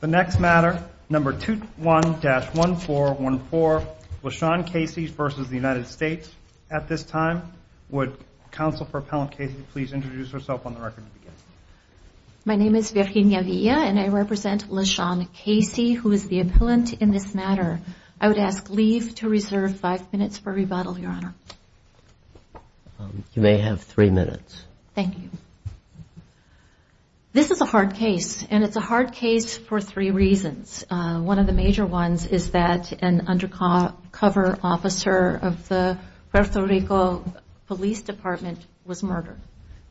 The next matter, number 21-1414, LaShawn Casey versus the United States. At this time, would Counsel for Appellant Casey please introduce herself on the record. My name is Virginia Villa and I represent LaShawn Casey, who is the appellant in this matter. I would ask leave to reserve five minutes for rebuttal, Your Honor. You may have three minutes. Thank you. This is a hard case, and it's a hard case for three reasons. One of the major ones is that an undercover officer of the Puerto Rico Police Department was murdered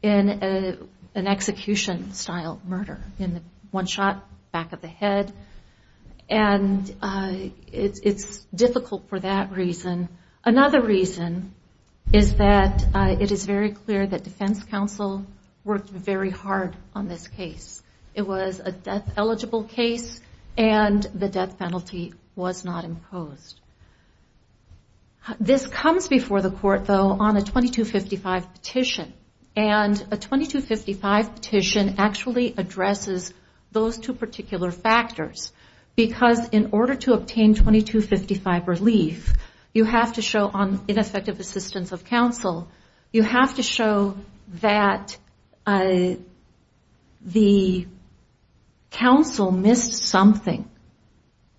in an execution-style murder. One shot, back of the head, and it's difficult for that reason. Another reason is that it is very clear that defense counsel worked very hard on this case. It was a death-eligible case, and the death penalty was not imposed. This comes before the court, though, on a 2255 petition, and a 2255 petition actually you have to show on ineffective assistance of counsel, you have to show that the counsel missed something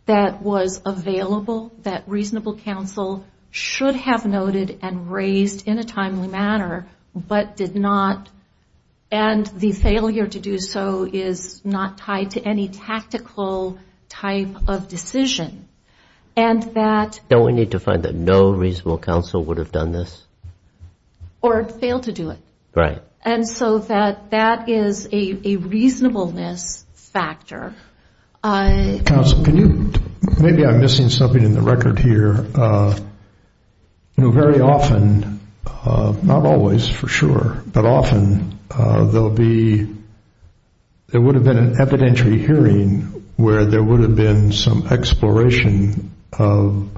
that was available, that reasonable counsel should have noted and raised in a timely manner, but did not, and the failure to do so is not tied to any tactical type of decision, and that... Don't we need to find that no reasonable counsel would have done this? Or failed to do it. Right. And so that that is a reasonableness factor. Counsel, can you, maybe I'm missing something in the record here. Very often, not always, for sure, but often there will be, there would have been an evidentiary hearing where there would have been some exploration of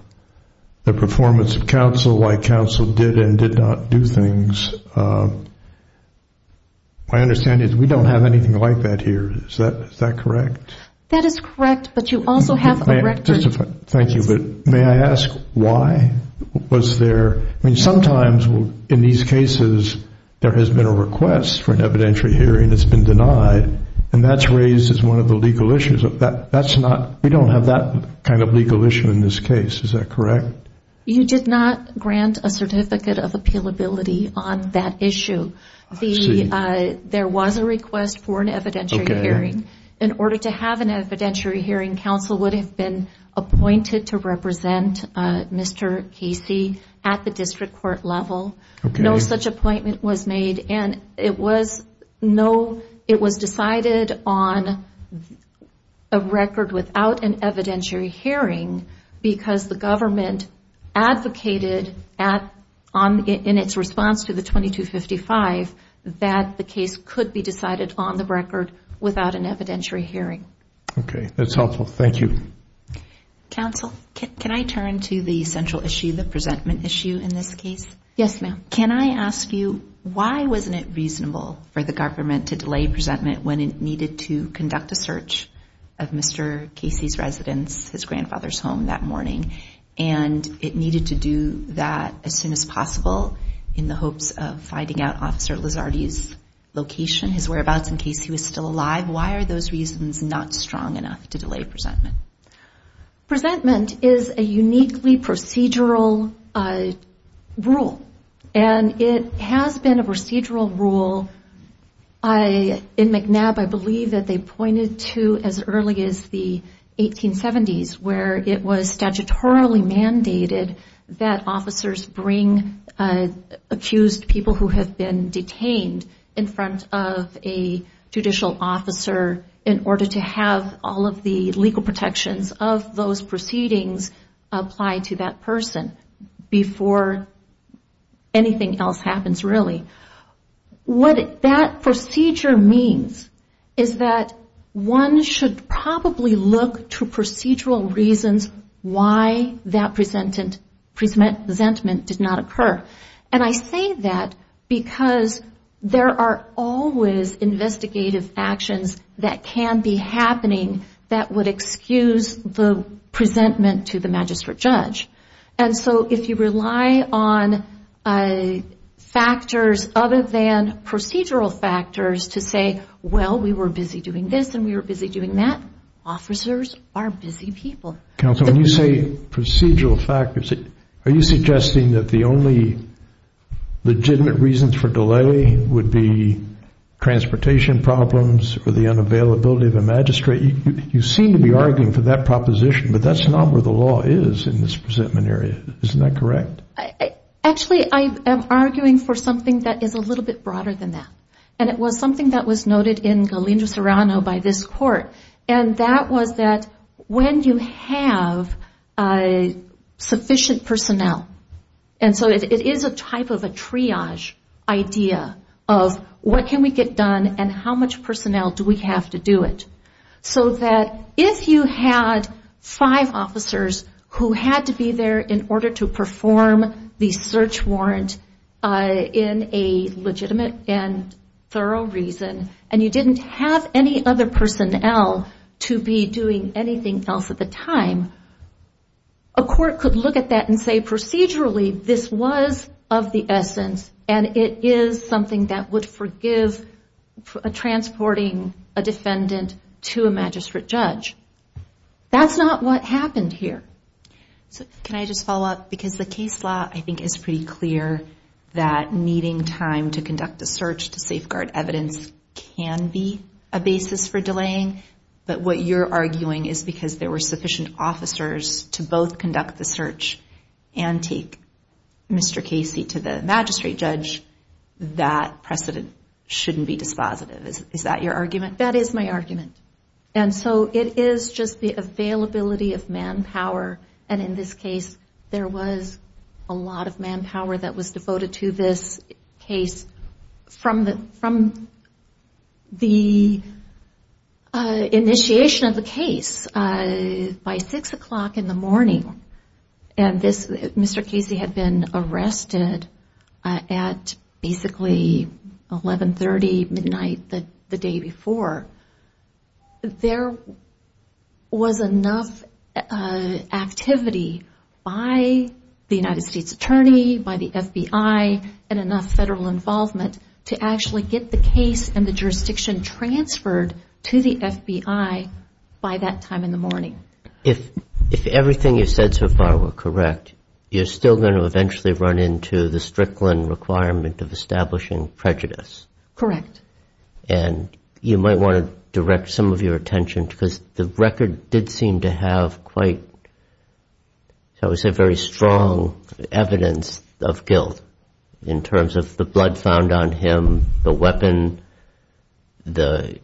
the performance of counsel, why counsel did and did not do things. My understanding is we don't have anything like that here. Is that correct? That is correct, but you also have a record... Thank you, but may I ask why was there, I mean, sometimes in these cases there has been a request for an evidentiary hearing that's been denied, and that's raised as one of the We don't have that kind of legal issue in this case. Is that correct? You did not grant a certificate of appealability on that issue. There was a request for an evidentiary hearing. In order to have an evidentiary hearing, counsel would have been appointed to represent Mr. Casey at the district court level. No such without an evidentiary hearing because the government advocated in its response to the 2255 that the case could be decided on the record without an evidentiary hearing. Okay, that's helpful. Thank you. Counsel, can I turn to the central issue, the presentment issue in this case? Yes, ma'am. Can I ask you why wasn't it reasonable for the government to delay presentment when it Casey's residence, his grandfather's home that morning, and it needed to do that as soon as possible in the hopes of finding out Officer Lizardi's location, his whereabouts in case he was still alive? Why are those reasons not strong enough to delay presentment? Presentment is a uniquely procedural rule, and it has been a procedural rule in McNab, I believe that they pointed to as early as the 1870s where it was statutorily mandated that officers bring accused people who have been detained in front of a judicial officer in order to have all of the legal protections of those proceedings apply to that person before anything else happens, really. What that procedure means is that one should probably look to procedural reasons why that presentment did not occur. And I say that because there are always investigative actions that can be happening that would excuse the presentment to the magistrate judge. And so if you rely on factors other than procedural factors to say, well, we were busy doing this and we were busy doing that, officers are busy people. Counsel, when you say procedural factors, are you suggesting that the only legitimate reasons for delay would be transportation problems or the unavailability of a magistrate? You seem to be arguing for that proposition, but that's not where the law is in this presentment area. Isn't that correct? Actually I am arguing for something that is a little bit broader than that. And it was something that was noted in Galindo Serrano by this court, and that was that when you have sufficient personnel, and so it is a type of a triage idea of what can we get done and how much personnel do we have to do it, so that if you had five officers who had to be there in order to perform the search warrant in a legitimate and thorough reason, and you didn't have any other personnel to be doing anything else at the time, a court could look at that and say procedurally, this was of the essence, and it is something that would forgive transporting a defendant to a magistrate judge. That's not what happened here. Can I just follow up? Because the case law I think is pretty clear that needing time to conduct a search to safeguard evidence can be a basis for delaying, but what you're Mr. Casey to the magistrate judge, that precedent shouldn't be dispositive. Is that your argument? That is my argument. And so it is just the availability of manpower, and in this case there was a lot of manpower that was devoted to this case from the initiation of the case by 6 o'clock in the morning, and Mr. Casey had been arrested at basically 1130 midnight the day before. There was enough activity by the United States Attorney, by the FBI, and enough federal involvement to actually get the case and the jurisdiction transferred to the FBI by that time in the morning. If everything you've said so far were correct, you're still going to eventually run into the Strickland requirement of establishing prejudice. Correct. And you might want to direct some of your attention, because the record did seem to have quite, shall we say, very strong evidence of guilt in terms of the blood found on him, the weapon, the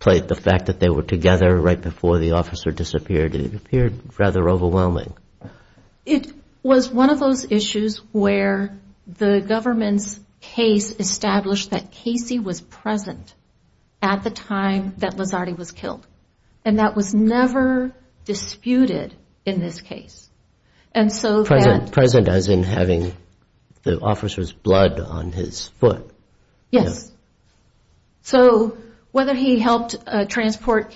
fact that they were together right before the officer disappeared. It appeared rather overwhelming. It was one of those issues where the government's case established that Casey was present at the time that Lizardi was killed, and that was never disputed in this case. Present as in having the officer's blood on his foot. Yes. So whether he helped transport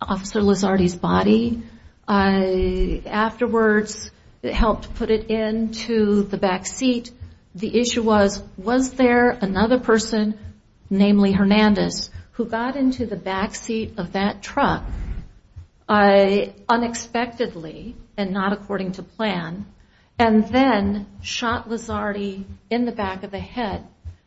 Officer Lizardi's body, afterwards helped put it into the back seat, the issue was, was there another person, namely Hernandez, who got into the back seat of that truck unexpectedly, and not according to plan, and then shot Lizardi in the back of the head.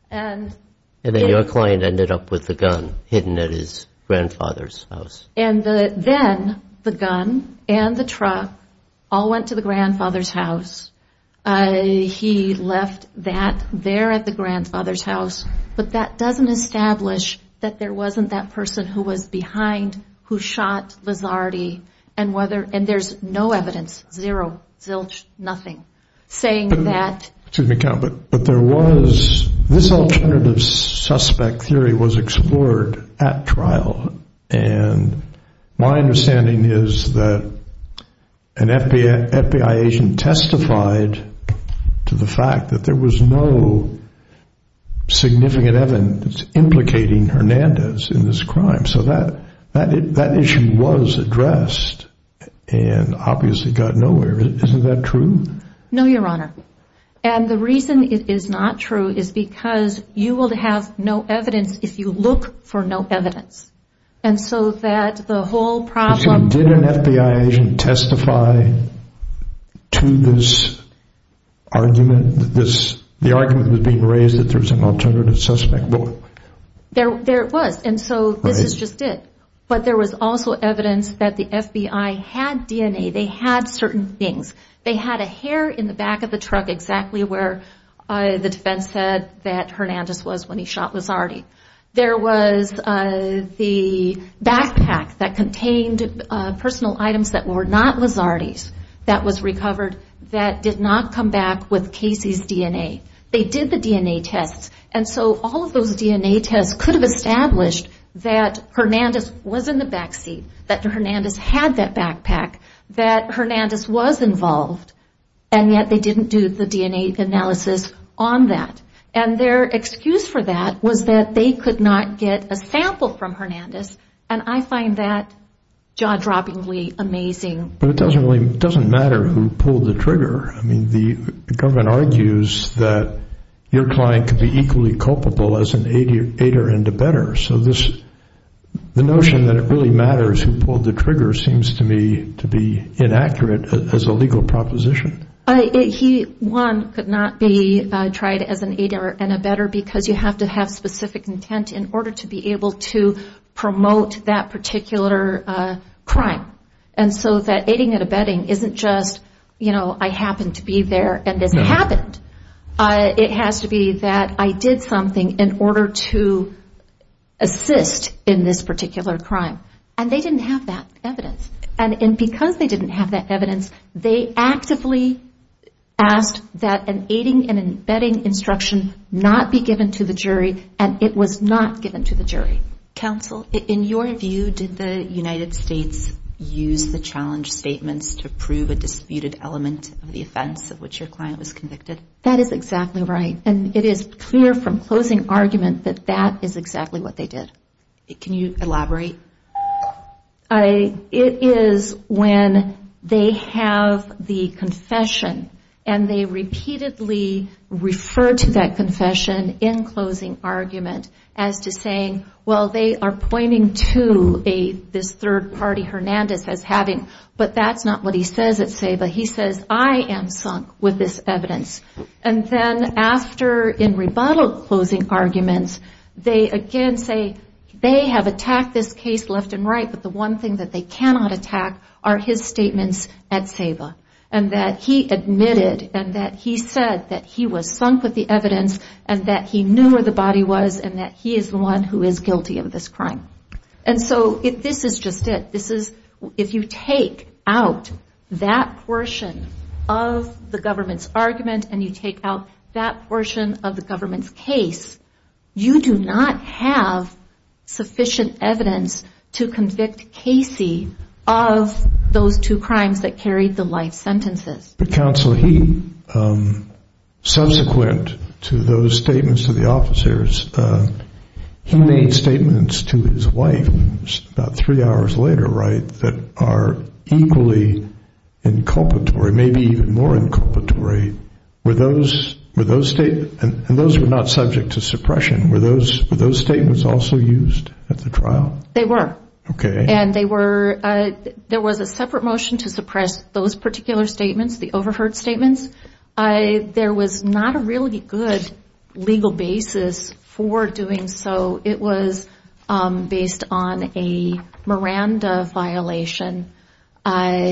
And then your client ended up with the gun hidden at his grandfather's house. And then the gun and the truck all went to the grandfather's house. He left that there at the grandfather's house. But that doesn't establish that there wasn't that person who was behind, who shot Lizardi, and whether, and there's no evidence, zero, nothing, saying that. But there was, this alternative suspect theory was explored at trial, and my understanding is that an FBI agent testified to the fact that there was no significant evidence implicating Hernandez in this crime. So that issue was addressed, and obviously got nowhere. Isn't that true? No, Your Honor. And the reason it is not true is because you will have no evidence if you look for no evidence. And so that the whole problem... Did an FBI agent testify to this argument? The argument was being raised that there was an alternative suspect. There was, and so this is just it. But there was also evidence that the FBI had DNA, they had certain things. They had a hair in the back of the truck exactly where the defense said that Hernandez was when he shot Lizardi. There was the backpack that contained personal items that were not Lizardi's that was recovered that did not come back with Casey's DNA. They did the DNA tests, and so all of those DNA tests could have established that Hernandez was in the back seat, that Hernandez had that backpack, that Hernandez was involved, and yet they didn't do the DNA analysis on that. And their excuse for that was that they could not get a sample from Hernandez, and I find that jaw-droppingly amazing. But it doesn't matter who pulled the trigger. I mean, the government argues that your client could be equally culpable as an aider and a better. So the notion that it really matters who pulled the trigger seems to me to be inaccurate as a legal proposition. He, one, could not be tried as an aider and a better because you have to have specific intent in order to be able to promote that particular crime. And so that aiding and abetting isn't just, you know, I happen to be there and this happened. It has to be that I did something in order to assist in this particular crime. And they didn't have that evidence. And because they didn't have that evidence, they actively asked that an aiding and abetting instruction not be given to the jury, and it was not given to the jury. Counsel, in your view, did the United States use the challenge statements to prove a disputed element of the offense of which your client was convicted? That is exactly right. And it is clear from closing argument that that is exactly what they did. Can you elaborate? It is when they have the confession and they repeatedly refer to that confession in closing argument as to saying, well, they are pointing to this third party Hernandez as having, but that's not what he says at SEBA. He says, I am sunk with this evidence. And then after, in rebuttal closing arguments, they again say, they have attacked this case left and right, but the one thing that they cannot attack are his statements at SEBA. And that he admitted and that he said that he was sunk with the evidence and that he knew where the body was and that he is the one who is guilty of this crime. And so this is just it. If you take out that portion of the government's argument and you take out that portion of the government's case, you do not have sufficient evidence to convict Casey of those two crimes that carried the life sentences. But Counsel, he, subsequent to those statements to the officers, he made statements to his wife about three hours later, right, that are equally inculpatory, maybe even more inculpatory. And those were not subject to suppression. Were those statements also used at the trial? They were. Okay. And there was a separate motion to suppress those particular statements, the overheard statements. There was not a really good legal basis for doing so. It was based on a Miranda violation,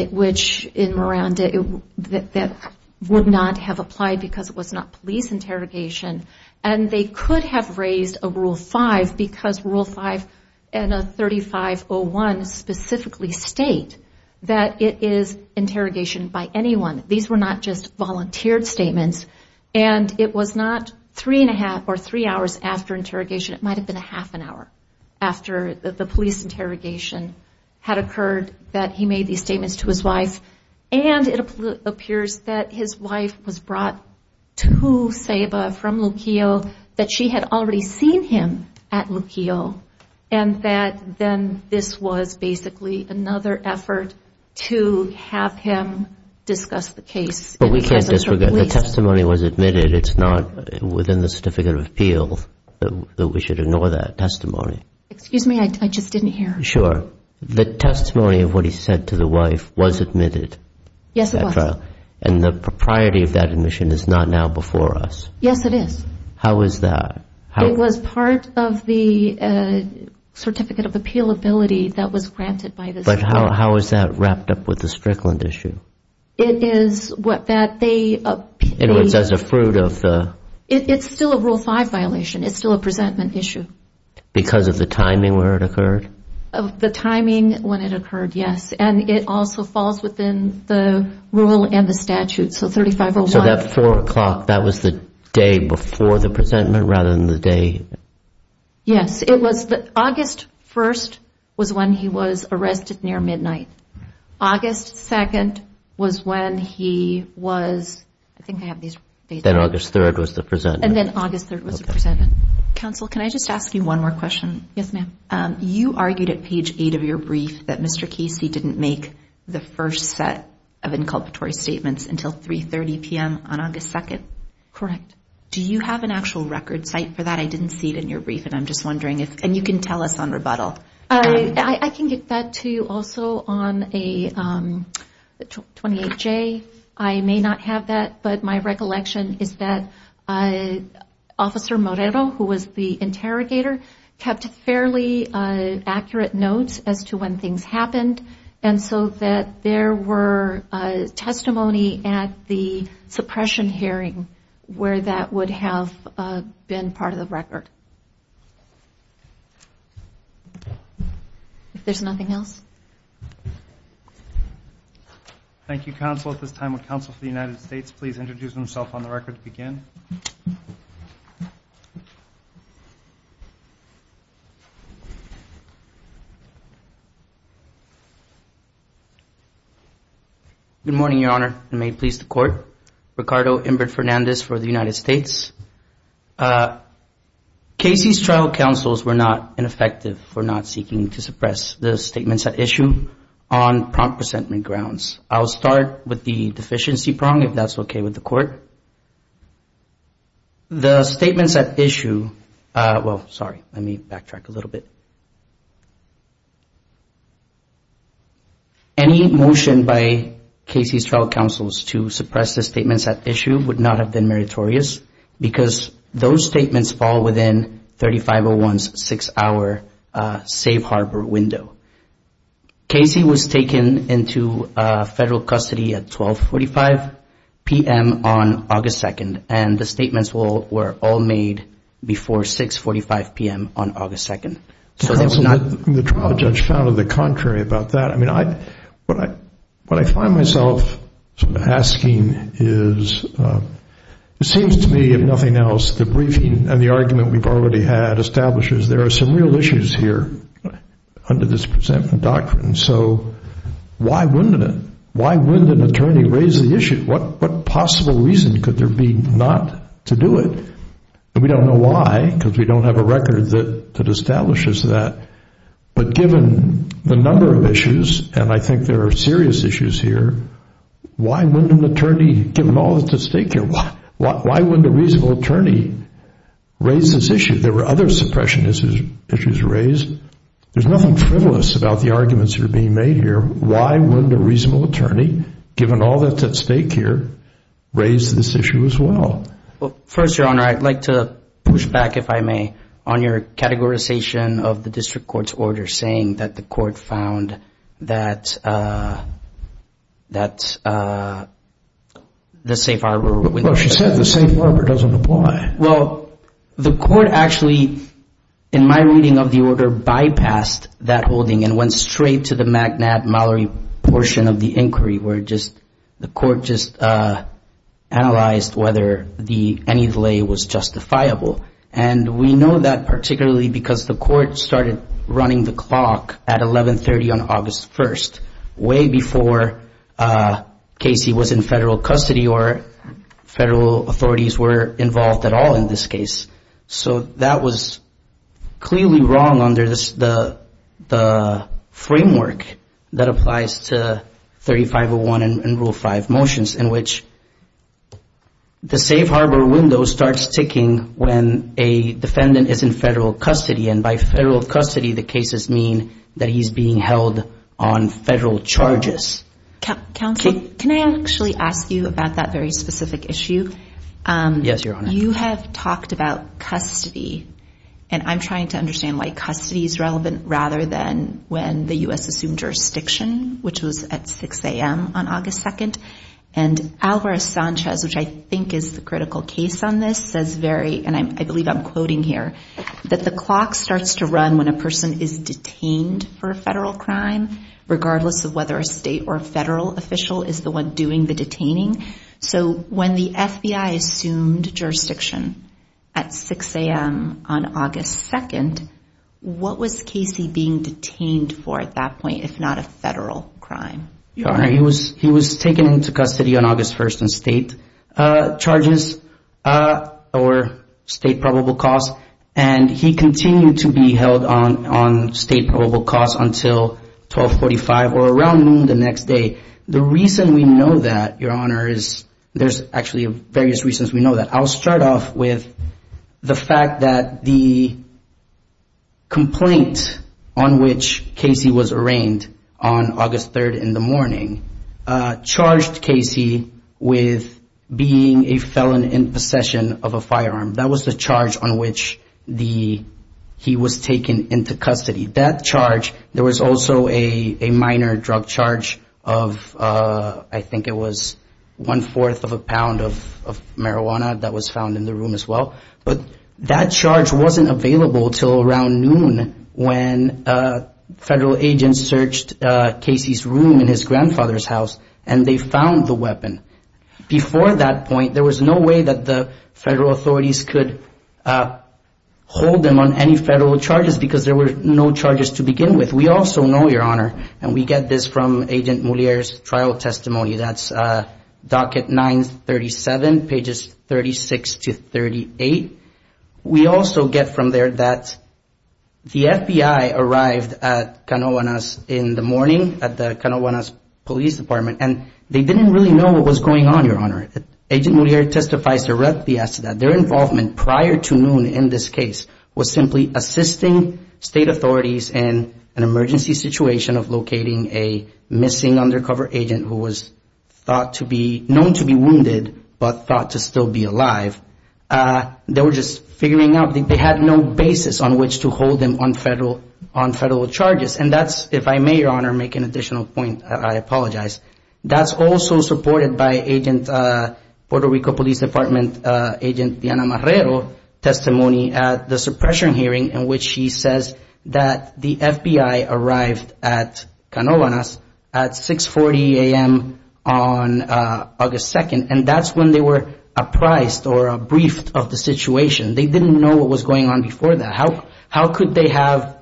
which in Miranda that would not have applied because it was not police interrogation. And they could have raised a Rule 5 because Rule 5 and a 3501 specifically state that it is interrogation by anyone. These were not just volunteered statements. And it was not three and a half or three hours after interrogation. It might have been a half an hour after the police interrogation had occurred that he made these statements to his wife. And it appears that his wife was brought to SABA from Luquillo, that she had already seen him at Luquillo, and that then this was basically another effort to have him discuss the case. But we can't disregard the testimony was admitted. It's not within the Certificate of Appeal that we should ignore that testimony. Excuse me. I just didn't hear. Sure. The testimony of what he said to the wife was admitted. Yes, it was. And the propriety of that admission is not now before us. Yes, it is. How is that? It was part of the Certificate of Appeal ability that was granted by the State. But how is that wrapped up with the Strickland issue? It is what that they appealed. In other words, as a fruit of the... It's still a Rule 5 violation. It's still a presentment issue. Because of the timing where it occurred? The timing when it occurred, yes. And it also falls within the rule and the statute. So 3501... So that 4 o'clock, that was the day before the presentment rather than the day... Yes, it was. August 1st was when he was arrested near midnight. August 2nd was when he was... I think I have these... Then August 3rd was the presentment. And then August 3rd was the presentment. Counsel, can I just ask you one more question? Yes, ma'am. You argued at page 8 of your brief that Mr. Casey didn't make the first set of inculpatory statements until 3.30 p.m. on August 2nd? Correct. Do you have an actual record cite for that? I didn't see it in your brief, and I'm just wondering if... And you can tell us on rebuttal. I can get that to you also on a 28J. I may not have that, but my recollection is that Officer Morero, who was the interrogator, kept fairly accurate notes as to when things happened, and so that there were testimony at the suppression hearing where that would have been part of the record. If there's nothing else. Thank you, counsel. At this time, would Counsel for the United States please introduce himself on the record to begin? Good morning, Your Honor, and may it please the Court. Ricardo Inbert Fernandez for the United States. Casey's trial counsels were not ineffective for not seeking to suppress the statements at issue on prompt presentment grounds. I'll start with the deficiency prong, if that's okay with the Court. The statements at issue – well, sorry, let me backtrack a little bit. Any motion by Casey's trial counsels to suppress the statements at issue would not have been meritorious because those statements fall within 3501's six-hour safe harbor window. Casey was taken into federal custody at 12.45 p.m. on August 2nd, and the statements were all made before 6.45 p.m. on August 2nd. Counsel, the trial judge found the contrary about that. I mean, what I find myself asking is it seems to me, if nothing else, the briefing and the argument we've already had establishes there are some real issues here under this presentment doctrine. So why wouldn't it? Why wouldn't an attorney raise the issue? What possible reason could there be not to do it? We don't know why because we don't have a record that establishes that. But given the number of issues, and I think there are serious issues here, why wouldn't an attorney, given all that's at stake here, why wouldn't a reasonable attorney raise this issue? There were other suppression issues raised. There's nothing frivolous about the arguments that are being made here. Why wouldn't a reasonable attorney, given all that's at stake here, raise this issue as well? Well, first, Your Honor, I'd like to push back, if I may, on your categorization of the district court's order saying that the court found that the safe harbor window. Well, she said the safe harbor doesn't apply. Well, the court actually, in my reading of the order, bypassed that holding and went straight to the McNabb-Mallory portion of the inquiry where the court just analyzed whether any delay was justifiable. And we know that particularly because the court started running the clock at 1130 on August 1st, way before Casey was in federal custody or federal authorities were involved at all in this case. So that was clearly wrong under the framework that applies to 3501 and Rule 5 motions in which the safe harbor window starts ticking when a defendant is in federal custody. And by federal custody, the cases mean that he's being held on federal charges. Counsel, can I actually ask you about that very specific issue? Yes, Your Honor. You have talked about custody, and I'm trying to understand why custody is relevant rather than when the U.S. assumed jurisdiction, which was at 6 a.m. on August 2nd. And Alvarez-Sanchez, which I think is the critical case on this, says very, and I believe I'm quoting here, that the clock starts to run when a person is detained for a federal crime, regardless of whether a state or a federal official is the one doing the detaining. So when the FBI assumed jurisdiction at 6 a.m. on August 2nd, what was Casey being detained for at that point, if not a federal crime? Your Honor, he was taken into custody on August 1st on state charges or state probable cause, and he continued to be held on state probable cause until 1245 or around noon the next day. The reason we know that, Your Honor, is there's actually various reasons we know that. I'll start off with the fact that the complaint on which Casey was arraigned on August 3rd in the morning charged Casey with being a felon in possession of a firearm. That was the charge on which he was taken into custody. That charge, there was also a minor drug charge of, I think it was one-fourth of a pound of marijuana that was found in the room as well. But that charge wasn't available until around noon when federal agents searched Casey's room in his grandfather's house and they found the weapon. Before that point, there was no way that the federal authorities could hold him on any federal charges because there were no charges to begin with. We also know, Your Honor, and we get this from Agent Moliere's trial testimony, that's docket 937, pages 36 to 38. We also get from there that the FBI arrived at Canoanas in the morning at the Canoanas Police Department, and they didn't really know what was going on, Your Honor. Agent Moliere testifies directly as to that. Their involvement prior to noon in this case was simply assisting state authorities in an emergency situation of locating a missing undercover agent who was known to be wounded but thought to still be alive. They were just figuring out, they had no basis on which to hold him on federal charges. And that's, if I may, Your Honor, make an additional point, I apologize. That's also supported by Puerto Rico Police Department Agent Diana Marrero's testimony at the suppression hearing in which she says that the FBI arrived at Canoanas at 6.40 a.m. on August 2nd, and that's when they were apprised or briefed of the situation. They didn't know what was going on before that. How could they have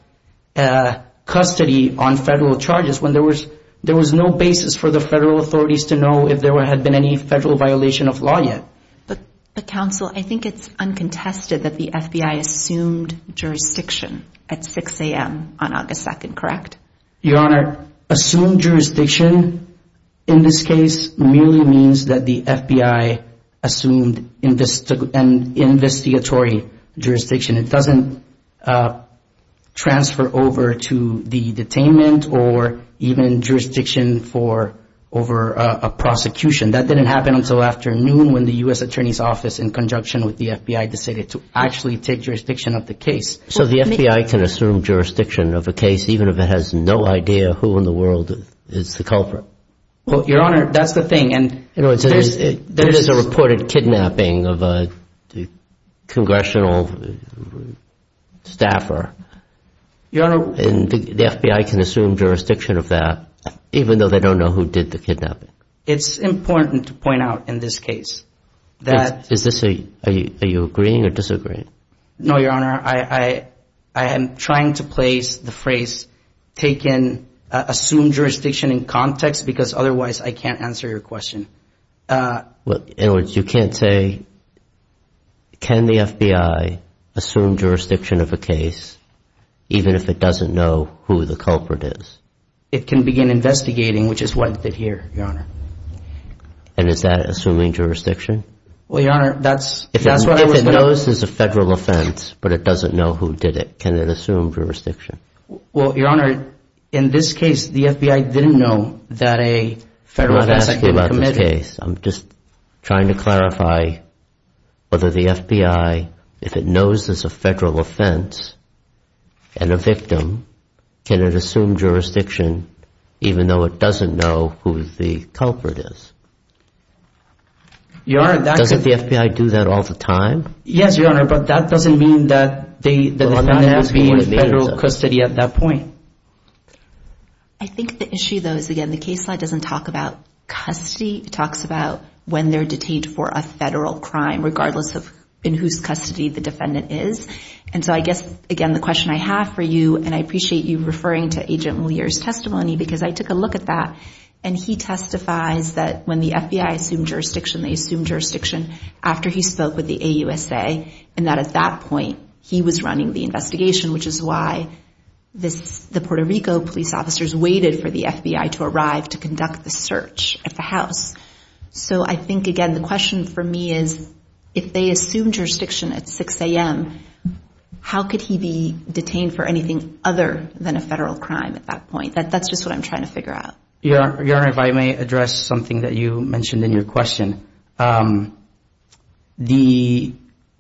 custody on federal charges when there was no basis for the federal authorities to know if there had been any federal violation of law yet? But, Counsel, I think it's uncontested that the FBI assumed jurisdiction at 6 a.m. on August 2nd, correct? Your Honor, assumed jurisdiction in this case merely means that the FBI assumed an investigatory jurisdiction. It doesn't transfer over to the detainment or even jurisdiction over a prosecution. That didn't happen until afternoon when the U.S. Attorney's Office, in conjunction with the FBI, decided to actually take jurisdiction of the case. So the FBI can assume jurisdiction of a case even if it has no idea who in the world is the culprit? Well, Your Honor, that's the thing. There is a reported kidnapping of a congressional staffer, and the FBI can assume jurisdiction of that even though they don't know who did the kidnapping. It's important to point out in this case that Are you agreeing or disagreeing? No, Your Honor. I am trying to place the phrase assumed jurisdiction in context because otherwise I can't answer your question. In other words, you can't say, can the FBI assume jurisdiction of a case even if it doesn't know who the culprit is? It can begin investigating, which is what it did here, Your Honor. And is that assuming jurisdiction? If it knows there's a federal offense but it doesn't know who did it, can it assume jurisdiction? Well, Your Honor, in this case, the FBI didn't know that a federal offense had been committed. I'm just trying to clarify whether the FBI, if it knows there's a federal offense and a victim, can it assume jurisdiction even though it doesn't know who the culprit is? Doesn't the FBI do that all the time? Yes, Your Honor, but that doesn't mean that there's not going to be federal custody at that point. I think the issue, though, is again, the case doesn't talk about custody. It talks about when they're detained for a federal crime regardless of in whose custody the defendant is. And so I guess, again, the question I have for you, and I appreciate you referring to Agent Moliere's testimony because I took a look at that, and he testifies that when the FBI assumed jurisdiction, they assumed jurisdiction after he spoke with the AUSA and that at that point he was running the investigation, which is why the Puerto Rico police officers waited for the FBI to arrive to conduct the search at the house. So I think, again, the question for me is if they assumed jurisdiction at 6 a.m., how could he be detained for anything other than a federal crime at that point? That's just what I'm trying to figure out. Your Honor, if I may address something that you mentioned in your question. The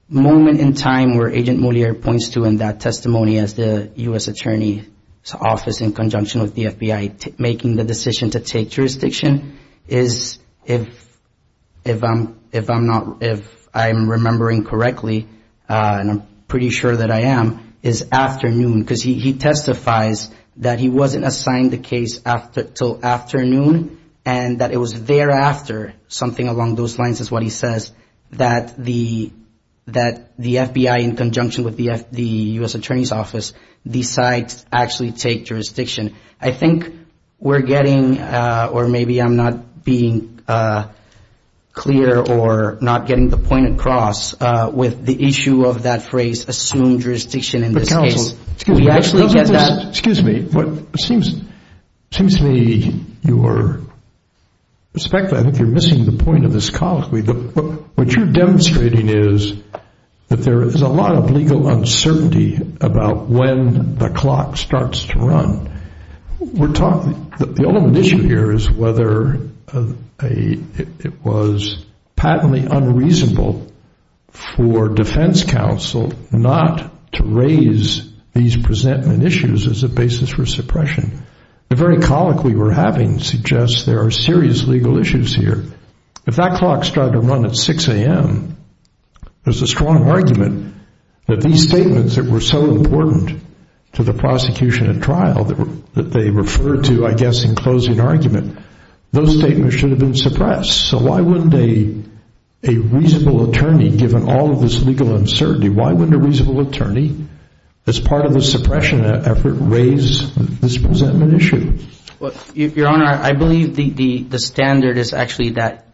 moment in time where Agent Moliere points to in that testimony as the U.S. Attorney's Office in conjunction with the FBI making the decision to take jurisdiction is if I'm remembering correctly, and I'm pretty sure that I am, is afternoon because he testifies that he wasn't assigned the case until afternoon and that it was thereafter, something along those lines is what he says, that the FBI in conjunction with the U.S. Attorney's Office decides to actually take jurisdiction. I think we're getting, or maybe I'm not being clear or not getting the point across, with the issue of that phrase assumed jurisdiction in this case. Excuse me. It seems to me you're, respectfully, I think you're missing the point of this colleague. What you're demonstrating is that there is a lot of legal uncertainty about when the clock starts to run. We're talking, the only issue here is whether it was patently unreasonable for defense counsel not to raise these presentment issues as a basis for suppression. The very colic we were having suggests there are serious legal issues here. If that clock started to run at 6 a.m., there's a strong argument that these statements that were so important to the prosecution and trial that they referred to, I guess, in closing argument, those statements should have been suppressed. So why wouldn't a reasonable attorney, given all of this legal uncertainty, why wouldn't a reasonable attorney as part of the suppression effort raise this presentment issue? Your Honor, I believe the standard is actually that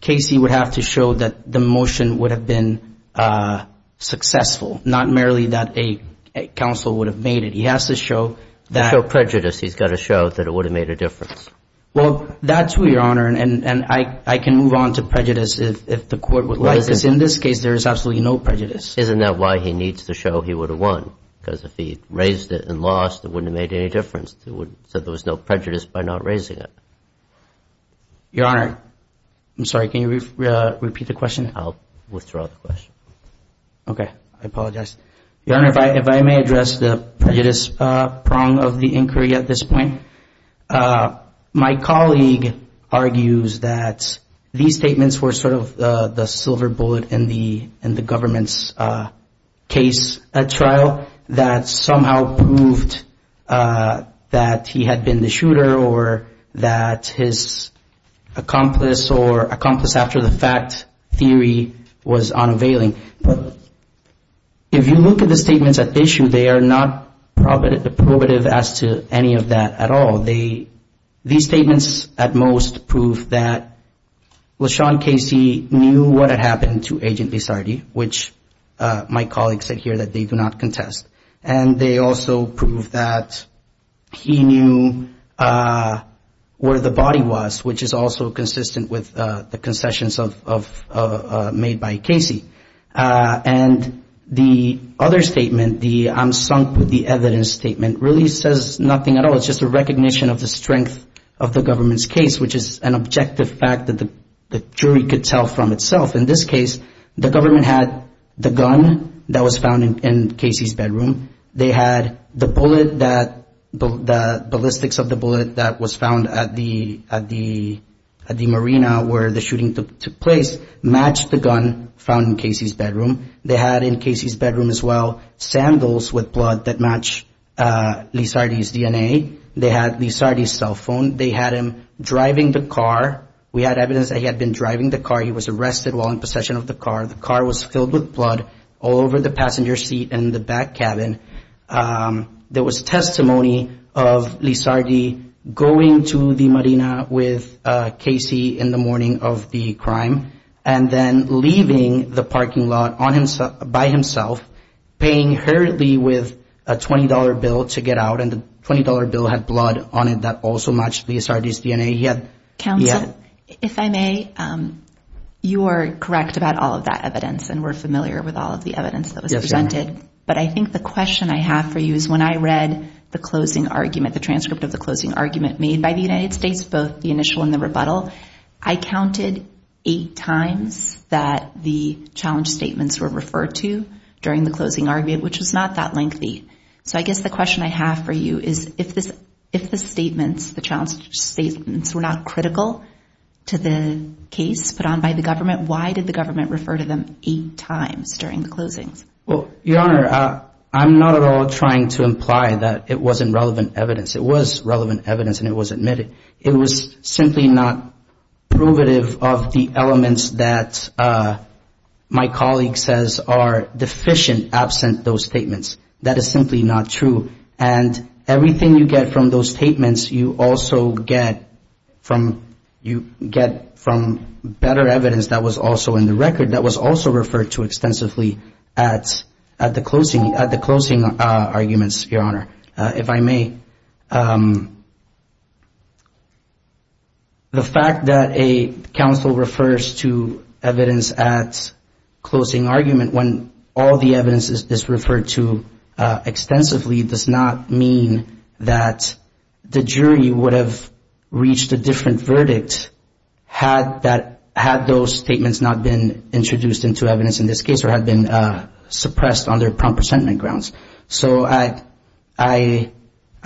Casey would have to show that the motion would have been successful, not merely that a counsel would have made it. He has to show that. To show prejudice, he's got to show that it would have made a difference. Well, that's true, Your Honor, and I can move on to prejudice if the Court would like this. In this case, there is absolutely no prejudice. Isn't that why he needs to show he would have won? Because if he raised it and lost, it wouldn't have made any difference. So there was no prejudice by not raising it. Your Honor, I'm sorry, can you repeat the question? I'll withdraw the question. Okay. I apologize. Your Honor, if I may address the prejudice prong of the inquiry at this point. My colleague argues that these statements were sort of the silver bullet in the government's case trial that somehow proved that he had been the shooter or that his accomplice or accomplice after the fact theory was unavailing. If you look at the statements at issue, they are not probative as to any of that at all. These statements at most prove that, well, Sean Casey knew what had happened to Agent Lissardi, which my colleague said here that they do not contest, and they also prove that he knew where the body was, which is also consistent with the concessions made by Casey. And the other statement, the I'm sunk with the evidence statement, really says nothing at all. It's just a recognition of the strength of the government's case, which is an objective fact that the jury could tell from itself. In this case, the government had the gun that was found in Casey's bedroom. They had the bullet that the ballistics of the bullet that was found at the Marina where the shooting took place matched the gun found in Casey's bedroom. They had in Casey's bedroom as well sandals with blood that matched Lissardi's DNA. They had Lissardi's cell phone. They had him driving the car. We had evidence that he had been driving the car. He was arrested while in possession of the car. The car was filled with blood all over the passenger seat and the back cabin. There was testimony of Lissardi going to the Marina with Casey in the morning of the crime and then leaving the parking lot by himself, paying hurriedly with a $20 bill to get out, and the $20 bill had blood on it that also matched Lissardi's DNA. Counsel, if I may, you are correct about all of that evidence and we're familiar with all of the evidence that was presented. But I think the question I have for you is when I read the closing argument, the transcript of the closing argument made by the United States, both the initial and the rebuttal, I counted eight times that the challenge statements were referred to during the closing argument, which was not that lengthy. So I guess the question I have for you is if the statements, the challenge statements, were not critical to the case put on by the government, why did the government refer to them eight times during the closings? Well, Your Honor, I'm not at all trying to imply that it wasn't relevant evidence. It was relevant evidence and it was admitted. It was simply not provative of the elements that my colleague says are deficient absent those statements. That is simply not true. And everything you get from those statements you also get from better evidence that was also in the record that was also referred to extensively at the closing arguments, Your Honor. If I may. The fact that a counsel refers to evidence at closing argument when all the evidence is referred to extensively does not mean that the jury would have reached a different verdict had that, had those statements not been introduced into evidence in this case or had been suppressed under prompt resentment grounds. So I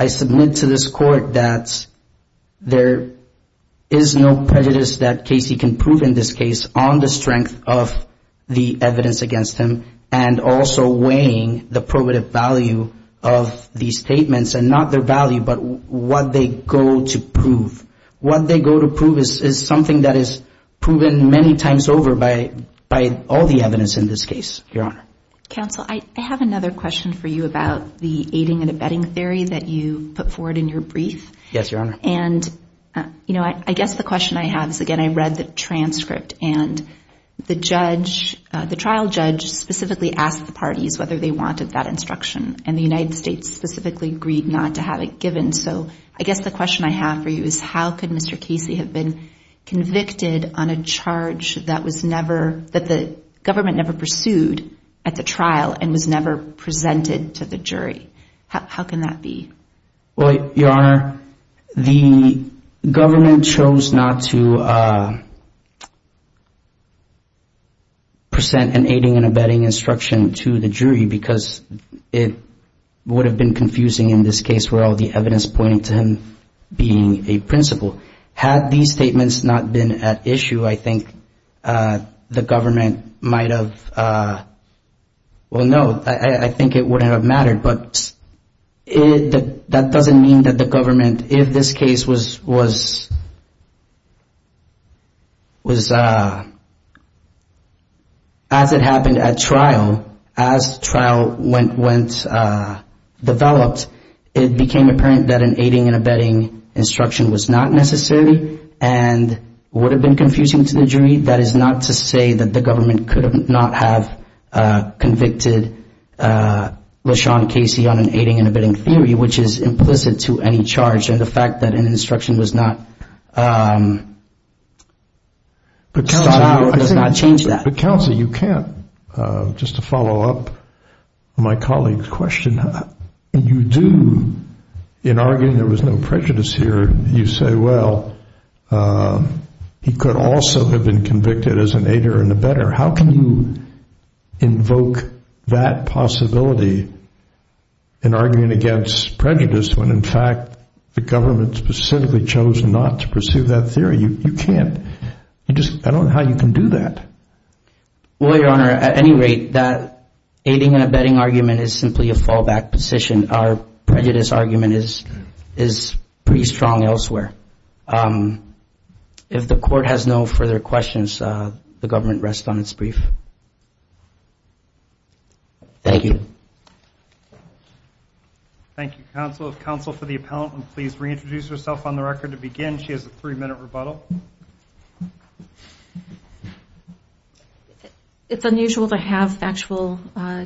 submit to this court that there is no prejudice that Casey can prove in this case on the strength of the evidence against him and also weighing the probative value of these statements and not their value but what they go to prove. What they go to prove is something that is proven many times over by all the evidence in this case, Your Honor. Counsel, I have another question for you about the aiding and abetting theory that you put forward in your brief. Yes, Your Honor. And, you know, I guess the question I have is, again, I read the transcript and the trial judge specifically asked the parties whether they wanted that instruction and the United States specifically agreed not to have it given. So I guess the question I have for you is how could Mr. Casey have been convicted on a charge that the government never pursued at the trial and was never presented to the jury? How can that be? Well, Your Honor, the government chose not to present an aiding and abetting instruction to the jury because it would have been confusing in this case where all the evidence pointed to him being a principal. Had these statements not been at issue, I think the government might have, well, no, I think it wouldn't have mattered. But that doesn't mean that the government, if this case was, as it happened at trial, as trial went, went, developed, it became apparent that an aiding and abetting instruction was not necessary and would have been confusing to the jury. That is not to say that the government could not have convicted LaShawn Casey on an aiding and abetting theory, which is implicit to any charge, and the fact that an instruction was not sought out does not change that. But, Counsel, you can't, just to follow up my colleague's question, you do, in arguing there was no prejudice here, you say, well, he could also have been convicted as an aider and abetter. How can you invoke that possibility in arguing against prejudice when, in fact, the government specifically chose not to pursue that theory? You can't. You just, I don't know how you can do that. Well, Your Honor, at any rate, that aiding and abetting argument is simply a fallback position. Our prejudice argument is pretty strong elsewhere. If the Court has no further questions, the government rests on its brief. Thank you. Thank you, Counsel. Counsel, for the appellant, please reintroduce yourself on the record to begin. She has a three-minute rebuttal. It's unusual to have factual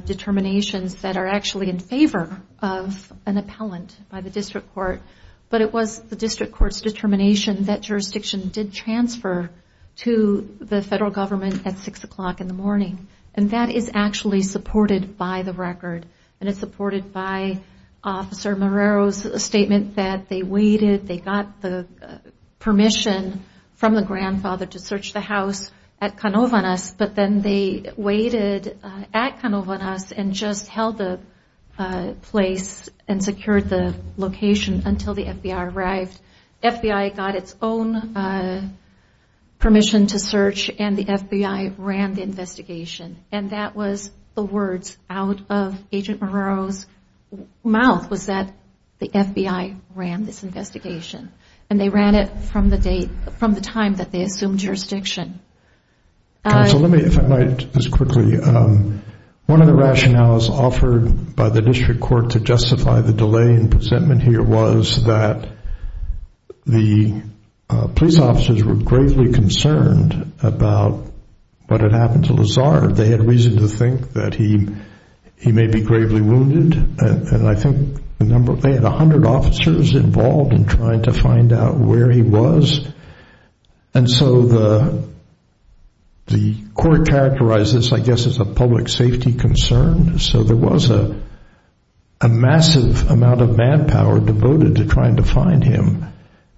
determinations that are actually in favor of an appellant by the District Court. But it was the District Court's determination that jurisdiction did transfer to the federal government at 6 o'clock in the morning. And that is actually supported by the record. And it's supported by Officer Morero's statement that they waited, they got the permission from the grandfather to search the house at Canovanas, but then they waited at Canovanas and just held the place and secured the location until the FBI arrived. The FBI got its own permission to search, and the FBI ran the investigation. And that was the words out of Agent Morero's mouth was that the FBI ran this investigation. And they ran it from the time that they assumed jurisdiction. Counsel, let me, if I might, just quickly. One of the rationales offered by the District Court to justify the delay in presentment here was that the police officers were gravely concerned about what had happened to Lazar. They had reason to think that he may be gravely wounded. And I think they had 100 officers involved in trying to find out where he was. And so the court characterized this, I guess, as a public safety concern. So there was a massive amount of manpower devoted to trying to find him.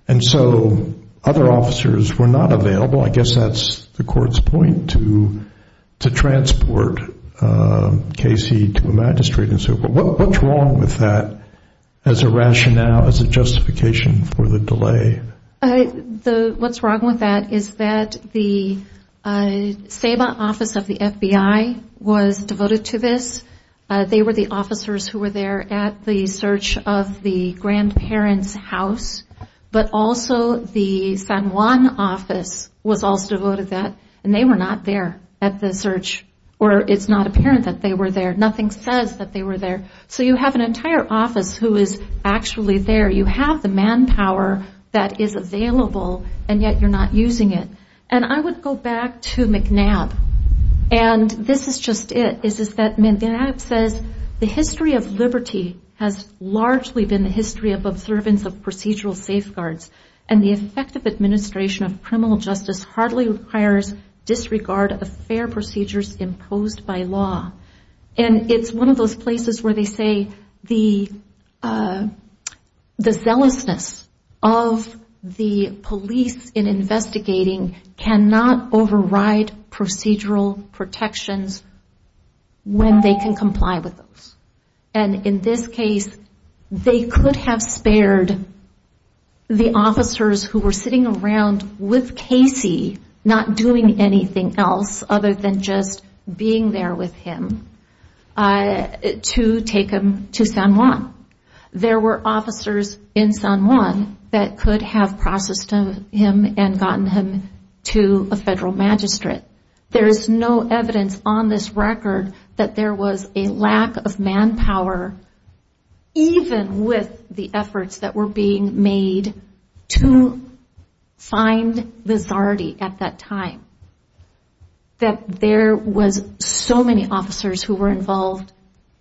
And so other officers were not available. I guess that's the court's point to transport Casey to a magistrate and so forth. What's wrong with that as a rationale, as a justification for the delay? What's wrong with that is that the SABA office of the FBI was devoted to this. They were the officers who were there at the search of the grandparent's house. But also the San Juan office was also devoted to that. And they were not there at the search, or it's not apparent that they were there. Nothing says that they were there. So you have an entire office who is actually there. You have the manpower that is available, and yet you're not using it. And I would go back to McNabb. And this is just it. McNabb says, The history of liberty has largely been the history of observance of procedural safeguards, and the effective administration of criminal justice hardly requires disregard of fair procedures imposed by law. And it's one of those places where they say the zealousness of the police in investigating cannot override procedural protections when they can comply with those. And in this case, they could have spared the officers who were sitting around with Casey, not doing anything else other than just being there with him, to take him to San Juan. There were officers in San Juan that could have processed him and gotten him to a federal magistrate. There is no evidence on this record that there was a lack of manpower, even with the efforts that were being made to find Vizardi at that time, that there was so many officers who were involved,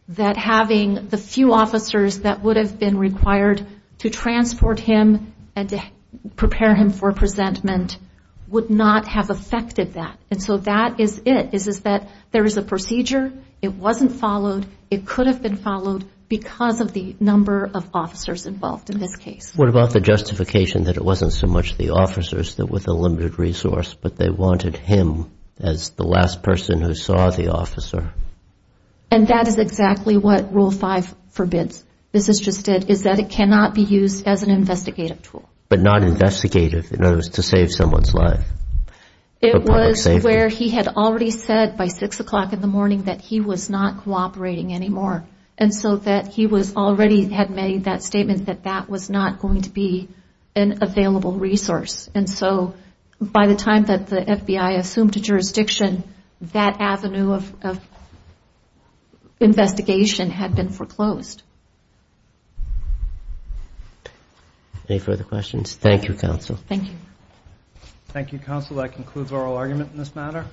that having the few officers that would have been required to transport him and to prepare him for presentment would not have affected that. And so that is it, is that there is a procedure. It wasn't followed. It could have been followed because of the number of officers involved in this case. What about the justification that it wasn't so much the officers that were the limited resource, but they wanted him as the last person who saw the officer? And that is exactly what Rule 5 forbids. This is just that it cannot be used as an investigative tool. But not investigative. In other words, to save someone's life. It was where he had already said by 6 o'clock in the morning that he was not cooperating anymore. And so that he already had made that statement that that was not going to be an available resource. And so by the time that the FBI assumed a jurisdiction, that avenue of investigation had been foreclosed. Any further questions? Thank you, Counsel. Thank you. Thank you, Counsel. That concludes oral argument in this matter.